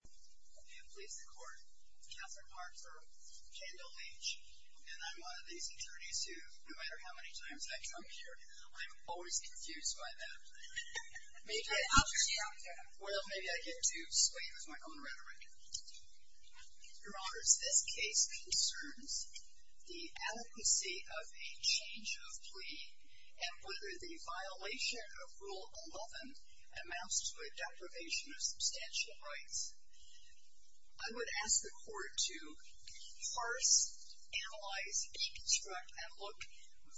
I'm here to please the court, Katherine Harker, Kandall Leitch, and I'm one of these attorneys who, no matter how many times I come here, I'm always confused by them. Well, maybe I get too swayed with my own rhetoric. Your Honors, this case concerns the adequacy of a change of plea and whether the violation of Rule 11 amounts to a deprivation of substantial rights. I would ask the court to parse, analyze, deconstruct, and look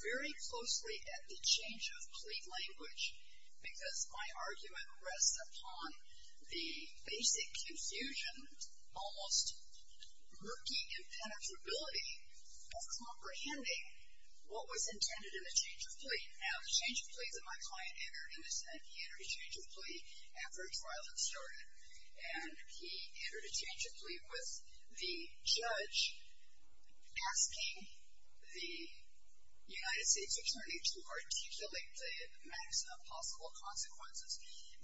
very closely at the change of plea language, because my argument rests upon the basic confusion, almost murky impenetrability of comprehending what was intended in the change of plea. Now, the change of plea that my client entered in his sentence, he entered a change of plea after a trial had started, and he entered a change of plea with the judge asking the United States Attorney to articulate the maximum possible consequences.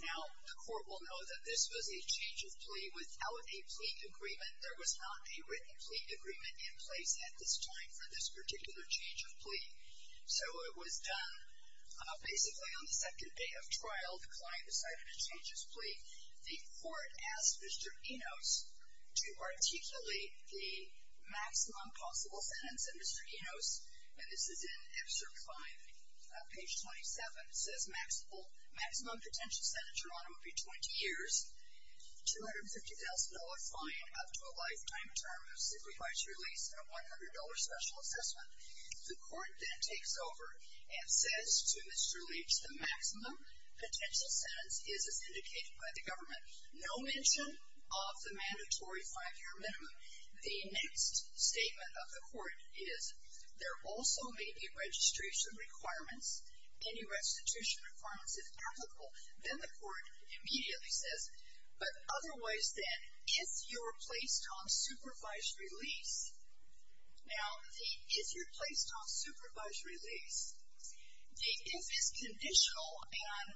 Now, the court will know that this was a change of plea without a plea agreement. There was not a written plea agreement in place at this time for this particular change of plea. So it was done basically on the second day of trial. The client decided to change his plea. The court asked Mr. Enos to articulate the maximum possible sentence. And Mr. Enos, and this is in excerpt 5, page 27, says maximum potential sentence, Your Honor, would be 20 years, $250,000 fine up to a lifetime term simplifies your lease, and a $100 special assessment. The court then takes over and says to Mr. Leach, the maximum potential sentence is, as indicated by the government, no mention of the mandatory five-year minimum. The next statement of the court is, there also may be registration requirements. Any registration requirements, if applicable. Then the court immediately says, but otherwise then, if you're placed on supervised release, Now, if you're placed on supervised release, the if is conditional. And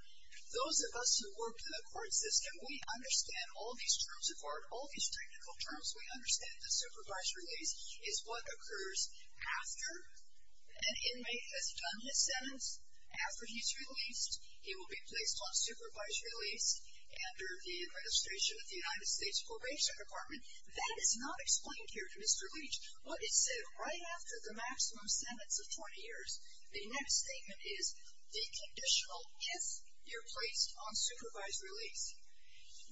those of us who work in the court system, we understand all these terms of court, all these technical terms, we understand that supervised release is what occurs after an inmate has done his sentence. After he's released, he will be placed on supervised release under the administration of the United States Probation Department. That is not explained here to Mr. Leach, but it's said right after the maximum sentence of 20 years. The next statement is deconditional if you're placed on supervised release.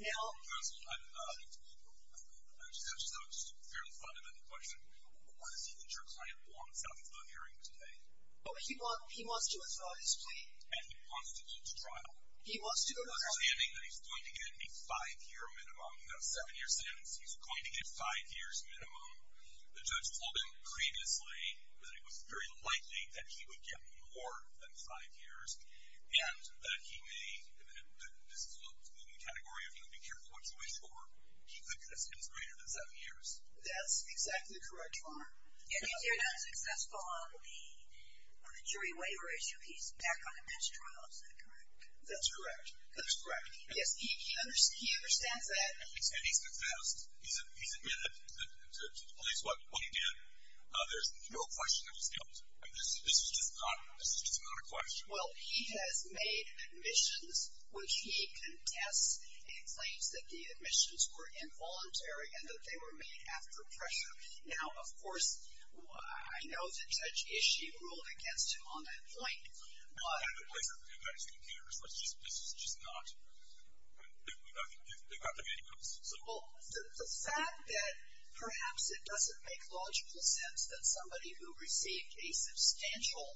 Now, First of all, that was a fairly fundamental question. Why does he think your client belongs at the hearing today? Well, he wants to withdraw his plea. And he wants to go to trial. He wants to go to trial. He's understanding that he's going to get a five-year minimum, not a seven-year sentence. He's going to get five years minimum. The judge told him previously that it was very likely that he would get more than five years. And that he may, this is a looming category of, you know, be careful what you wish for. He thinks it's greater than seven years. That's exactly correct. And he's very unsuccessful on the jury waiver issue. He's back on the next trial. Is that correct? That's correct. That's correct. Yes, he understands that. And he's confessed. He's admitted to the police. What he did, there's no question that was dealt. This is just not a question. Well, he has made admissions, which he contests. He claims that the admissions were involuntary and that they were made after pressure. Now, of course, I know the judge issued a rule against him on that point. But the fact that perhaps it doesn't make logical sense that somebody who received a substantial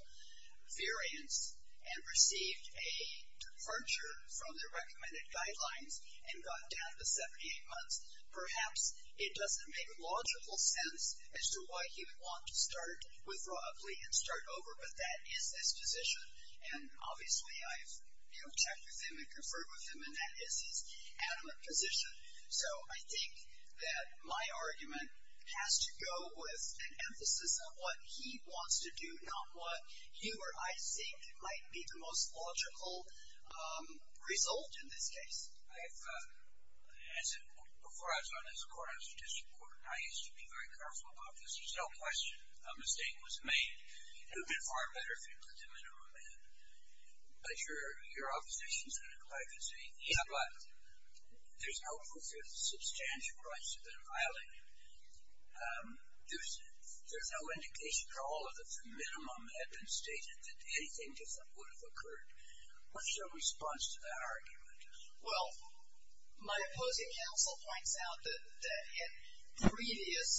variance and received a departure from the recommended guidelines and got down to 78 months, perhaps it doesn't make logical sense as to why he would want to start with Raw Ugly and start over. But that is his position. And obviously, I've checked with him and conferred with him, and that is his adamant position. So I think that my argument has to go with an emphasis on what he wants to do, not what you or I think might be the most logical result in this case. Before I was on this court, I was a district court, and I used to be very careful about this. There's no question a mistake was made. It would have been far better if you put the minimum in. But your opposition's been quite the same. Yeah, but there's no proof that substantial rights have been violated. There's no indication for all of us that the minimum had been stated, that anything different would have occurred. What is your response to that argument? Well, my opposing counsel points out that in the previous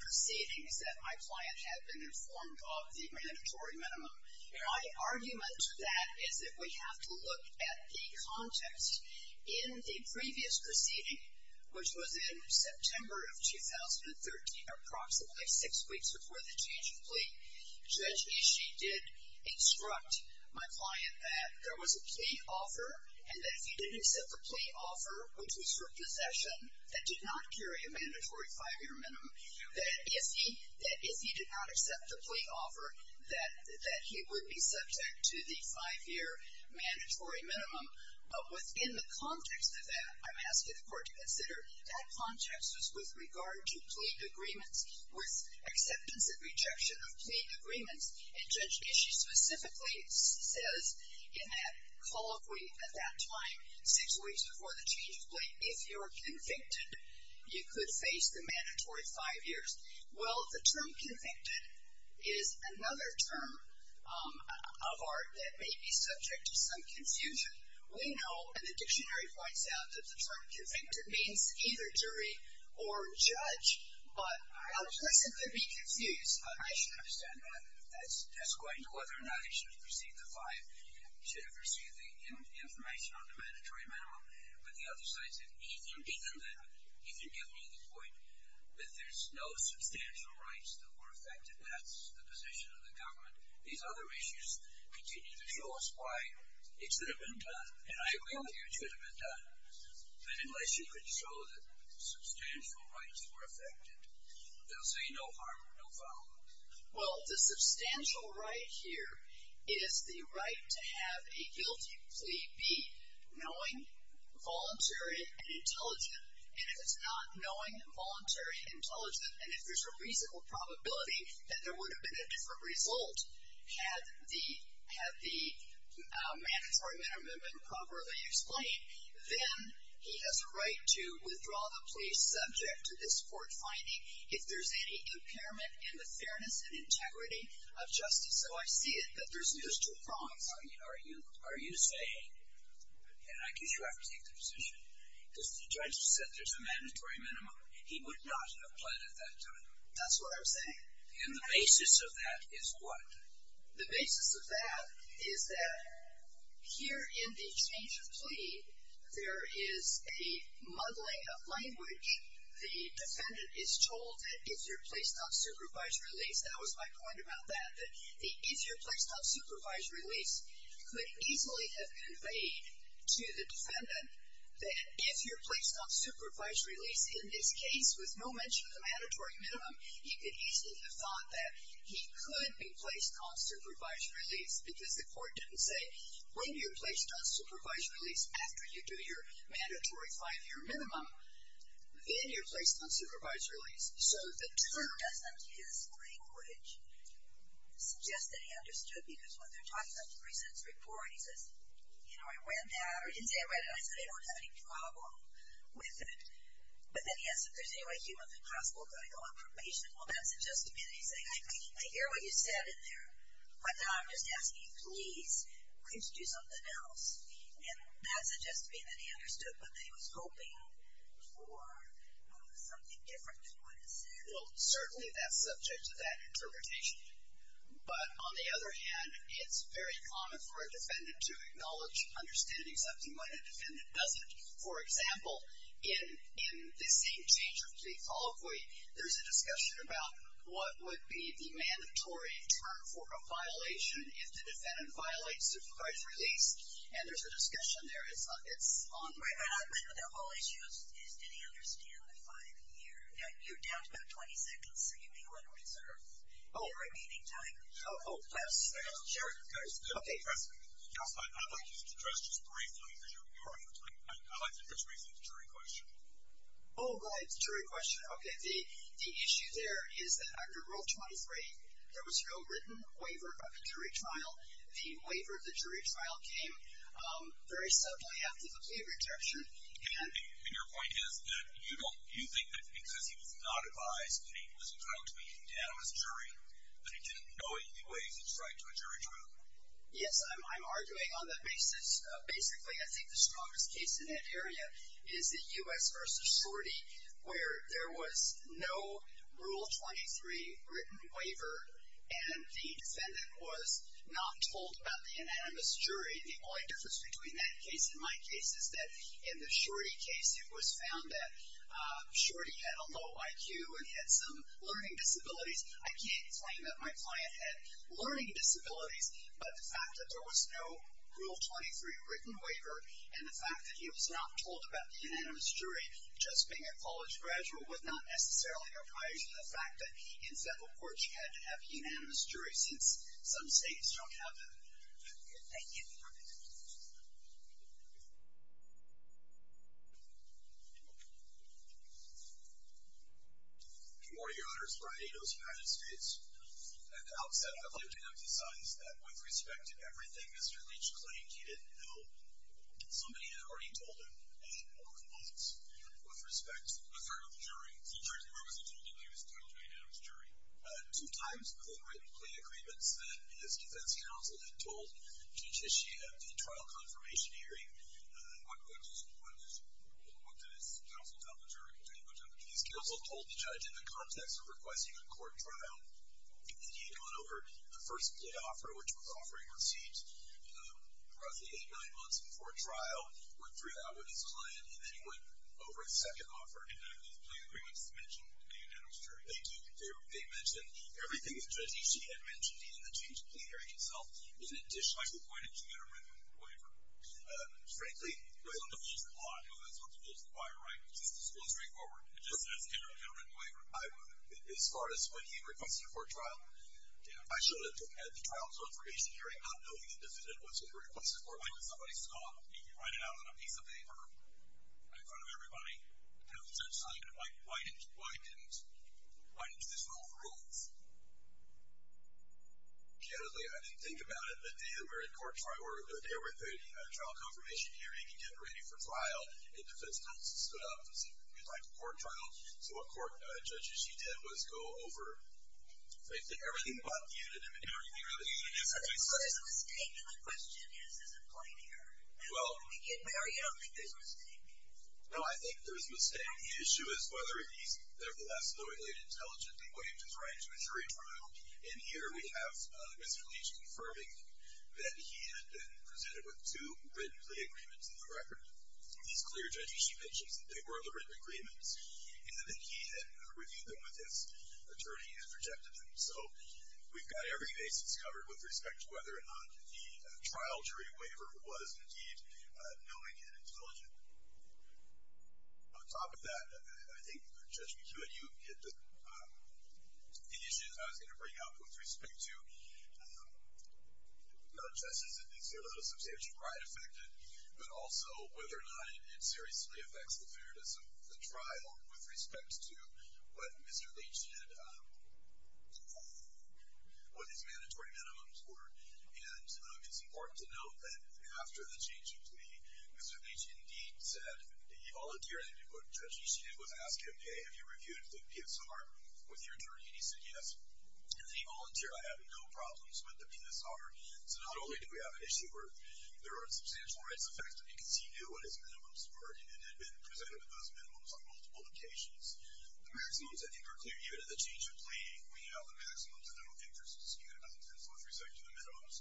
proceedings, that my client had been informed of the mandatory minimum. My argument to that is that we have to look at the context. In the previous proceeding, which was in September of 2013, approximately six weeks before the change of plea, Judge Ishii did instruct my client that there was a plea offer and that if he didn't accept the plea offer, which was for possession, that did not carry a mandatory five-year minimum, that if he did not accept the plea offer, that he would be subject to the five-year mandatory minimum. But within the context of that, I'm asking the Court to consider, that context was with regard to plea agreements, with acceptance and rejection of plea agreements. And Judge Ishii specifically says in that colloquy at that time, six weeks before the change of plea, if you're convicted, you could face the mandatory five years. Well, the term convicted is another term of art that may be subject to some confusion. We know, and the dictionary points out, that the term convicted means either jury or judge, but our question could be confused. I understand that. That's going to whether or not Ishii should have received the five, should have received the information on the mandatory minimum. But the other side said, he can give me the point that there's no substantial rights that were affected. That's the position of the government. These other issues continue to show us why it should have been done. And I agree with you, it should have been done. But unless you could show that substantial rights were affected, they'll say no harm, no foul. Well, the substantial right here is the right to have a guilty plea knowing, voluntary, and intelligent. And if it's not knowing, voluntary, and intelligent, and if there's a reasonable probability that there would have been a different result, had the mandatory minimum been properly explained, then he has a right to withdraw the plea subject to this court finding if there's any impairment in the fairness and integrity of justice. So I see it that there's two prongs. Are you saying, and I guess you have to take the position, because the judge said there's a mandatory minimum, he would not have pled at that time. That's what I'm saying. And the basis of that is what? The basis of that is that here in the change of plea, there is a muddling of language. The defendant is told that if you're placed on supervised release, that was my point about that, that if you're placed on supervised release, he could easily have conveyed to the defendant that if you're placed on supervised release, in this case with no mention of the mandatory minimum, he could easily have thought that he could be placed on supervised release because the court didn't say, when you're placed on supervised release, after you do your mandatory five-year minimum, then you're placed on supervised release. So doesn't his language suggest that he understood, because when they're talking about the recent report, he says, you know, I read that, or he didn't say I read it, and I said I don't have any problem with it. But then he asks if there's any way he would have been possible to go on probation. Well, that suggests to me that he's saying, I hear what you said in there, but then I'm just asking you, please, please do something else. And that suggests to me that he understood, but that he was hoping for something different than what it said. Well, certainly that's subject to that interpretation. But on the other hand, it's very common for a defendant to acknowledge understanding something when a defendant doesn't. For example, in this same change of plea colloquy, there's a discussion about what would be the mandatory term for a violation if the defendant violates supervised release, and there's a discussion there. It's ongoing. I know the whole issue is did he understand the five-year. You're down to about 20 seconds, so you may want to reserve the remaining time. Oh, sure. Okay. Counsel, I'd like you to address just briefly, because you're on your time. I'd like to address the jury question. Oh, go ahead. The jury question. Okay. The issue there is that under Rule 23, there was no written waiver of a jury trial. The waiver of the jury trial came very suddenly after the plea rejection. And your point is that you think that because he was not advised that he was entitled to be handed down as a jury, that he didn't know any ways to strike to a jury trial? Yes. I'm arguing on that basis. Basically, I think the strongest case in that area is the U.S. v. Sorority, where there was no Rule 23 written waiver, and the defendant was not told about the unanimous jury. The only difference between that case and my case is that in the Shorty case, it was found that Shorty had a low IQ and he had some learning disabilities. I can't claim that my client had learning disabilities, but the fact that there was no Rule 23 written waiver and the fact that he was not told about the unanimous jury, just being a college graduate, was not necessarily a priority. The fact that, instead, of course, you had to have a unanimous jury since some states don't have them. Thank you. Good morning, Your Honors. Brian Ados, United States. At the outset, I'd like to emphasize that with respect to everything Mr. Leach claimed, he didn't know. Somebody had already told him many important points. With respect to the third of the jury, the jury's representative didn't know he was entitled to a unanimous jury. Two times, the written plea agreements that his defense counsel had told to initiate a trial confirmation hearing. What did his counsel tell the jury? His counsel told the judge, in the context of requesting a court trial, that he had gone over the first plea offer, which was offering a receipt, roughly eight, nine months before trial, went through that with his client, and then he went over the second offer. He didn't have those plea agreements to mention the unanimous jury. They do. They mentioned everything that Judge Ishii had mentioned in the change of plea hearing itself, in addition to the written waiver. Frankly, it was on the rules of the law. I know that's what the rules require, right? It's just as straightforward. It just says, enter a written waiver. As far as when he requested a court trial, I should have had the trial confirmation hearing not knowing the defendant was requesting a court trial. Why did somebody stop? He could write it out on a piece of paper in front of everybody. Why didn't this rule rule? I didn't think about it. The day that we're in court trial, or the day we're through the trial confirmation hearing and getting ready for trial, the defense counsel stood up and said, we'd like a court trial. So what court Judge Ishii did was go over everything but the unanimous jury. So there's a mistake. And the question is, is it plain here? We get married, I don't think there's a mistake. No, I think there's a mistake. The issue is whether he's nevertheless loyally and intelligently waived his right to a jury trial. And here we have Mr. Leach confirming that he had been presented with two written plea agreements in the record. These clear, Judge Ishii mentions that they were the written agreements, and that he had reviewed them with his attorney and rejected them. So we've got every basis covered with respect to whether or not the trial jury waiver was, indeed, knowing and intelligent. On top of that, I think, Judge McHugh, you get the issues I was going to bring up with respect to non-justice indicators of substantial pride affected, but also whether or not it seriously affects the fairness of the trial with respect to what Mr. Leach did and what his mandatory minimums were. And it's important to note that after the change of plea, Mr. Leach, indeed, said that he volunteered, and what Judge Ishii did was ask him, okay, have you reviewed the PSR with your attorney? And he said yes. And then he volunteered by having no problems with the PSR. So not only do we have an issue where there are substantial rights affected because he knew what his minimums were and had been presented with those minimums on multiple occasions. The maximums, I think, are clear. Even at the change of plea, we know the maximums are no interest to the defendant, so let's respect to the minimums.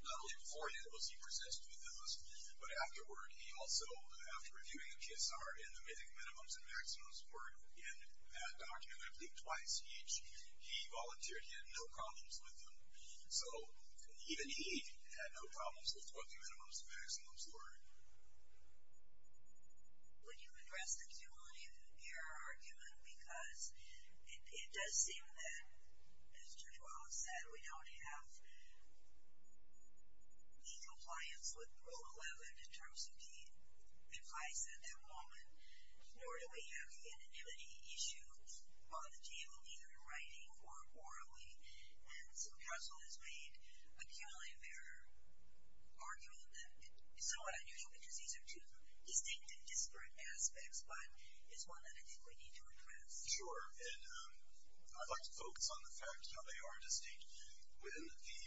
Not only before he did this, he presented with those, but afterward he also, after reviewing the PSR and the minimums and maximums were in that document, I believe twice each, he volunteered. He had no problems with them. So even he had no problems with what the minimums and maximums were. Would you address the cumulative error argument? Because it does seem that, as Judge Wallace said, we don't have any compliance with Rule 11 in terms of the advice that the woman, nor do we have the anonymity issue on the table, either in writing or orally. And so counsel has made a cumulative error argument that is somewhat unusual because these are two distinct and disparate aspects, but it's one that I think we need to address. Sure. And I'd like to focus on the fact how they are distinct. When the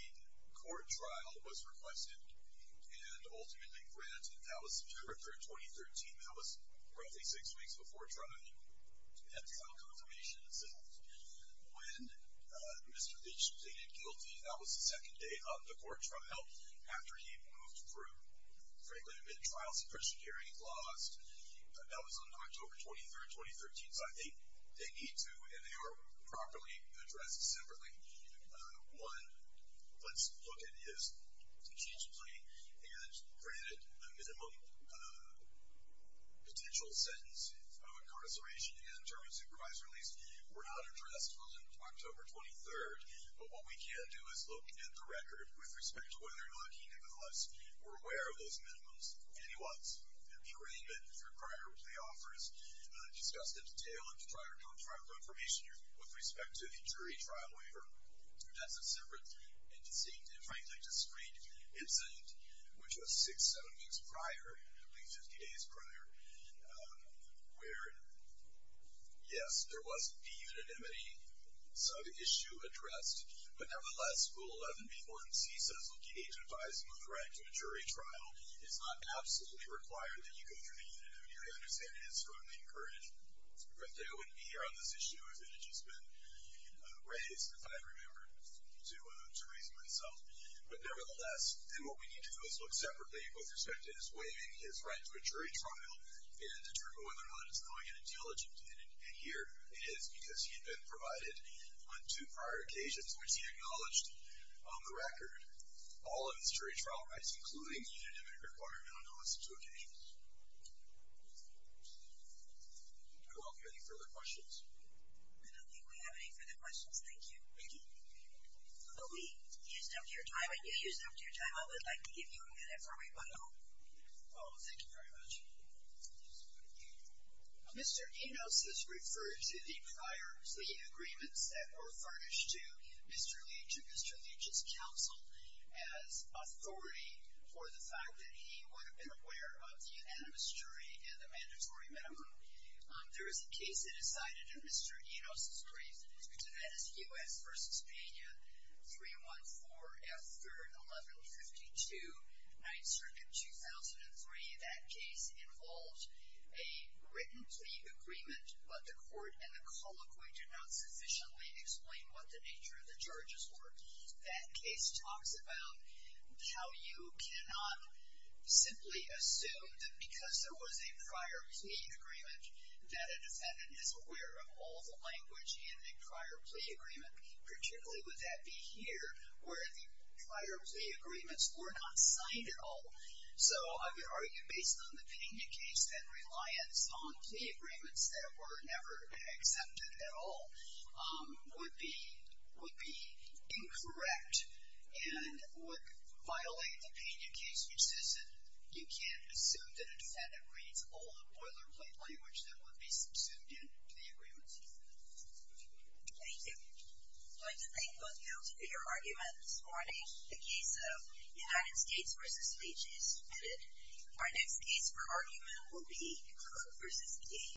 court trial was requested and ultimately granted, that was September 3rd, 2013. That was roughly six weeks before trial. That's how confirmation is sent. When Mr. Leach pleaded guilty, that was the second day of the court trial after he moved through, frankly, the mid-trial supposition hearing. He lost. That was on October 23rd, 2013. So I think they need to, and they are properly addressed separately. One, let's look at his case plea, and granted the minimum potential sentence of incarceration in terms of crime release were not addressed on October 23rd. But what we can do is look at the record with respect to whether or not he, nevertheless, were aware of those minimums. And he was. And the agreement for prior plea offers discussed in detail in the prior non-trial confirmation with respect to the jury trial waiver. That's a separate and distinct and, frankly, discrete incident, which was six, seven weeks prior, at least 50 days prior, where, yes, there was a de-unanimity sub-issue addressed. But nevertheless, Rule 11b-1c says, looking at your advising of the right to a jury trial is not absolutely required that you go through de-unanimity. I understand it is strongly encouraged. But I wouldn't be here on this issue if it had just been raised, if I remember to reason myself. But nevertheless, then what we need to do is look separately, with respect to his waiving his right to a jury trial, and determine whether or not it's knowing and intelligent. And here it is because he had been provided on two prior occasions, which he acknowledged on the record all of his jury trial rights, including the unanimity requirement on those two occasions. I welcome any further questions. I don't think we have any further questions. Thank you. Thank you. Well, we used up your time, and you used up your time. I would like to give you a minute for rebuttal. Oh, thank you very much. Mr. Enos has referred to the prior, the agreements that were furnished to Mr. Leach and Mr. Leach's counsel as authority for the fact that he would have been aware of the unanimous jury and the mandatory minimum. There is a case that is cited in Mr. Enos' brief, and that is U.S. v. Spania, 314 F. 3rd, 1152, 9th Circuit, 2003. That case involved a written plea agreement, but the court and the colloquy did not sufficiently explain what the nature of the charges were. That case talks about how you cannot simply assume that because there was a prior plea agreement that a defendant is aware of all the language in a prior plea agreement, particularly would that be here, where the prior plea agreements were not signed at all. So I would argue, based on the Pena case, that reliance on plea agreements that were never accepted at all would be incorrect and would violate the Pena case, which is that you can't assume that a defendant reads all the boilerplate language that would be subsumed in to the agreements. Thank you. Thank you. I'd like to thank both of you for your arguments. Marnie, the case of United States v. Speeches is submitted. Our next case for argument will be Cook v. Cage.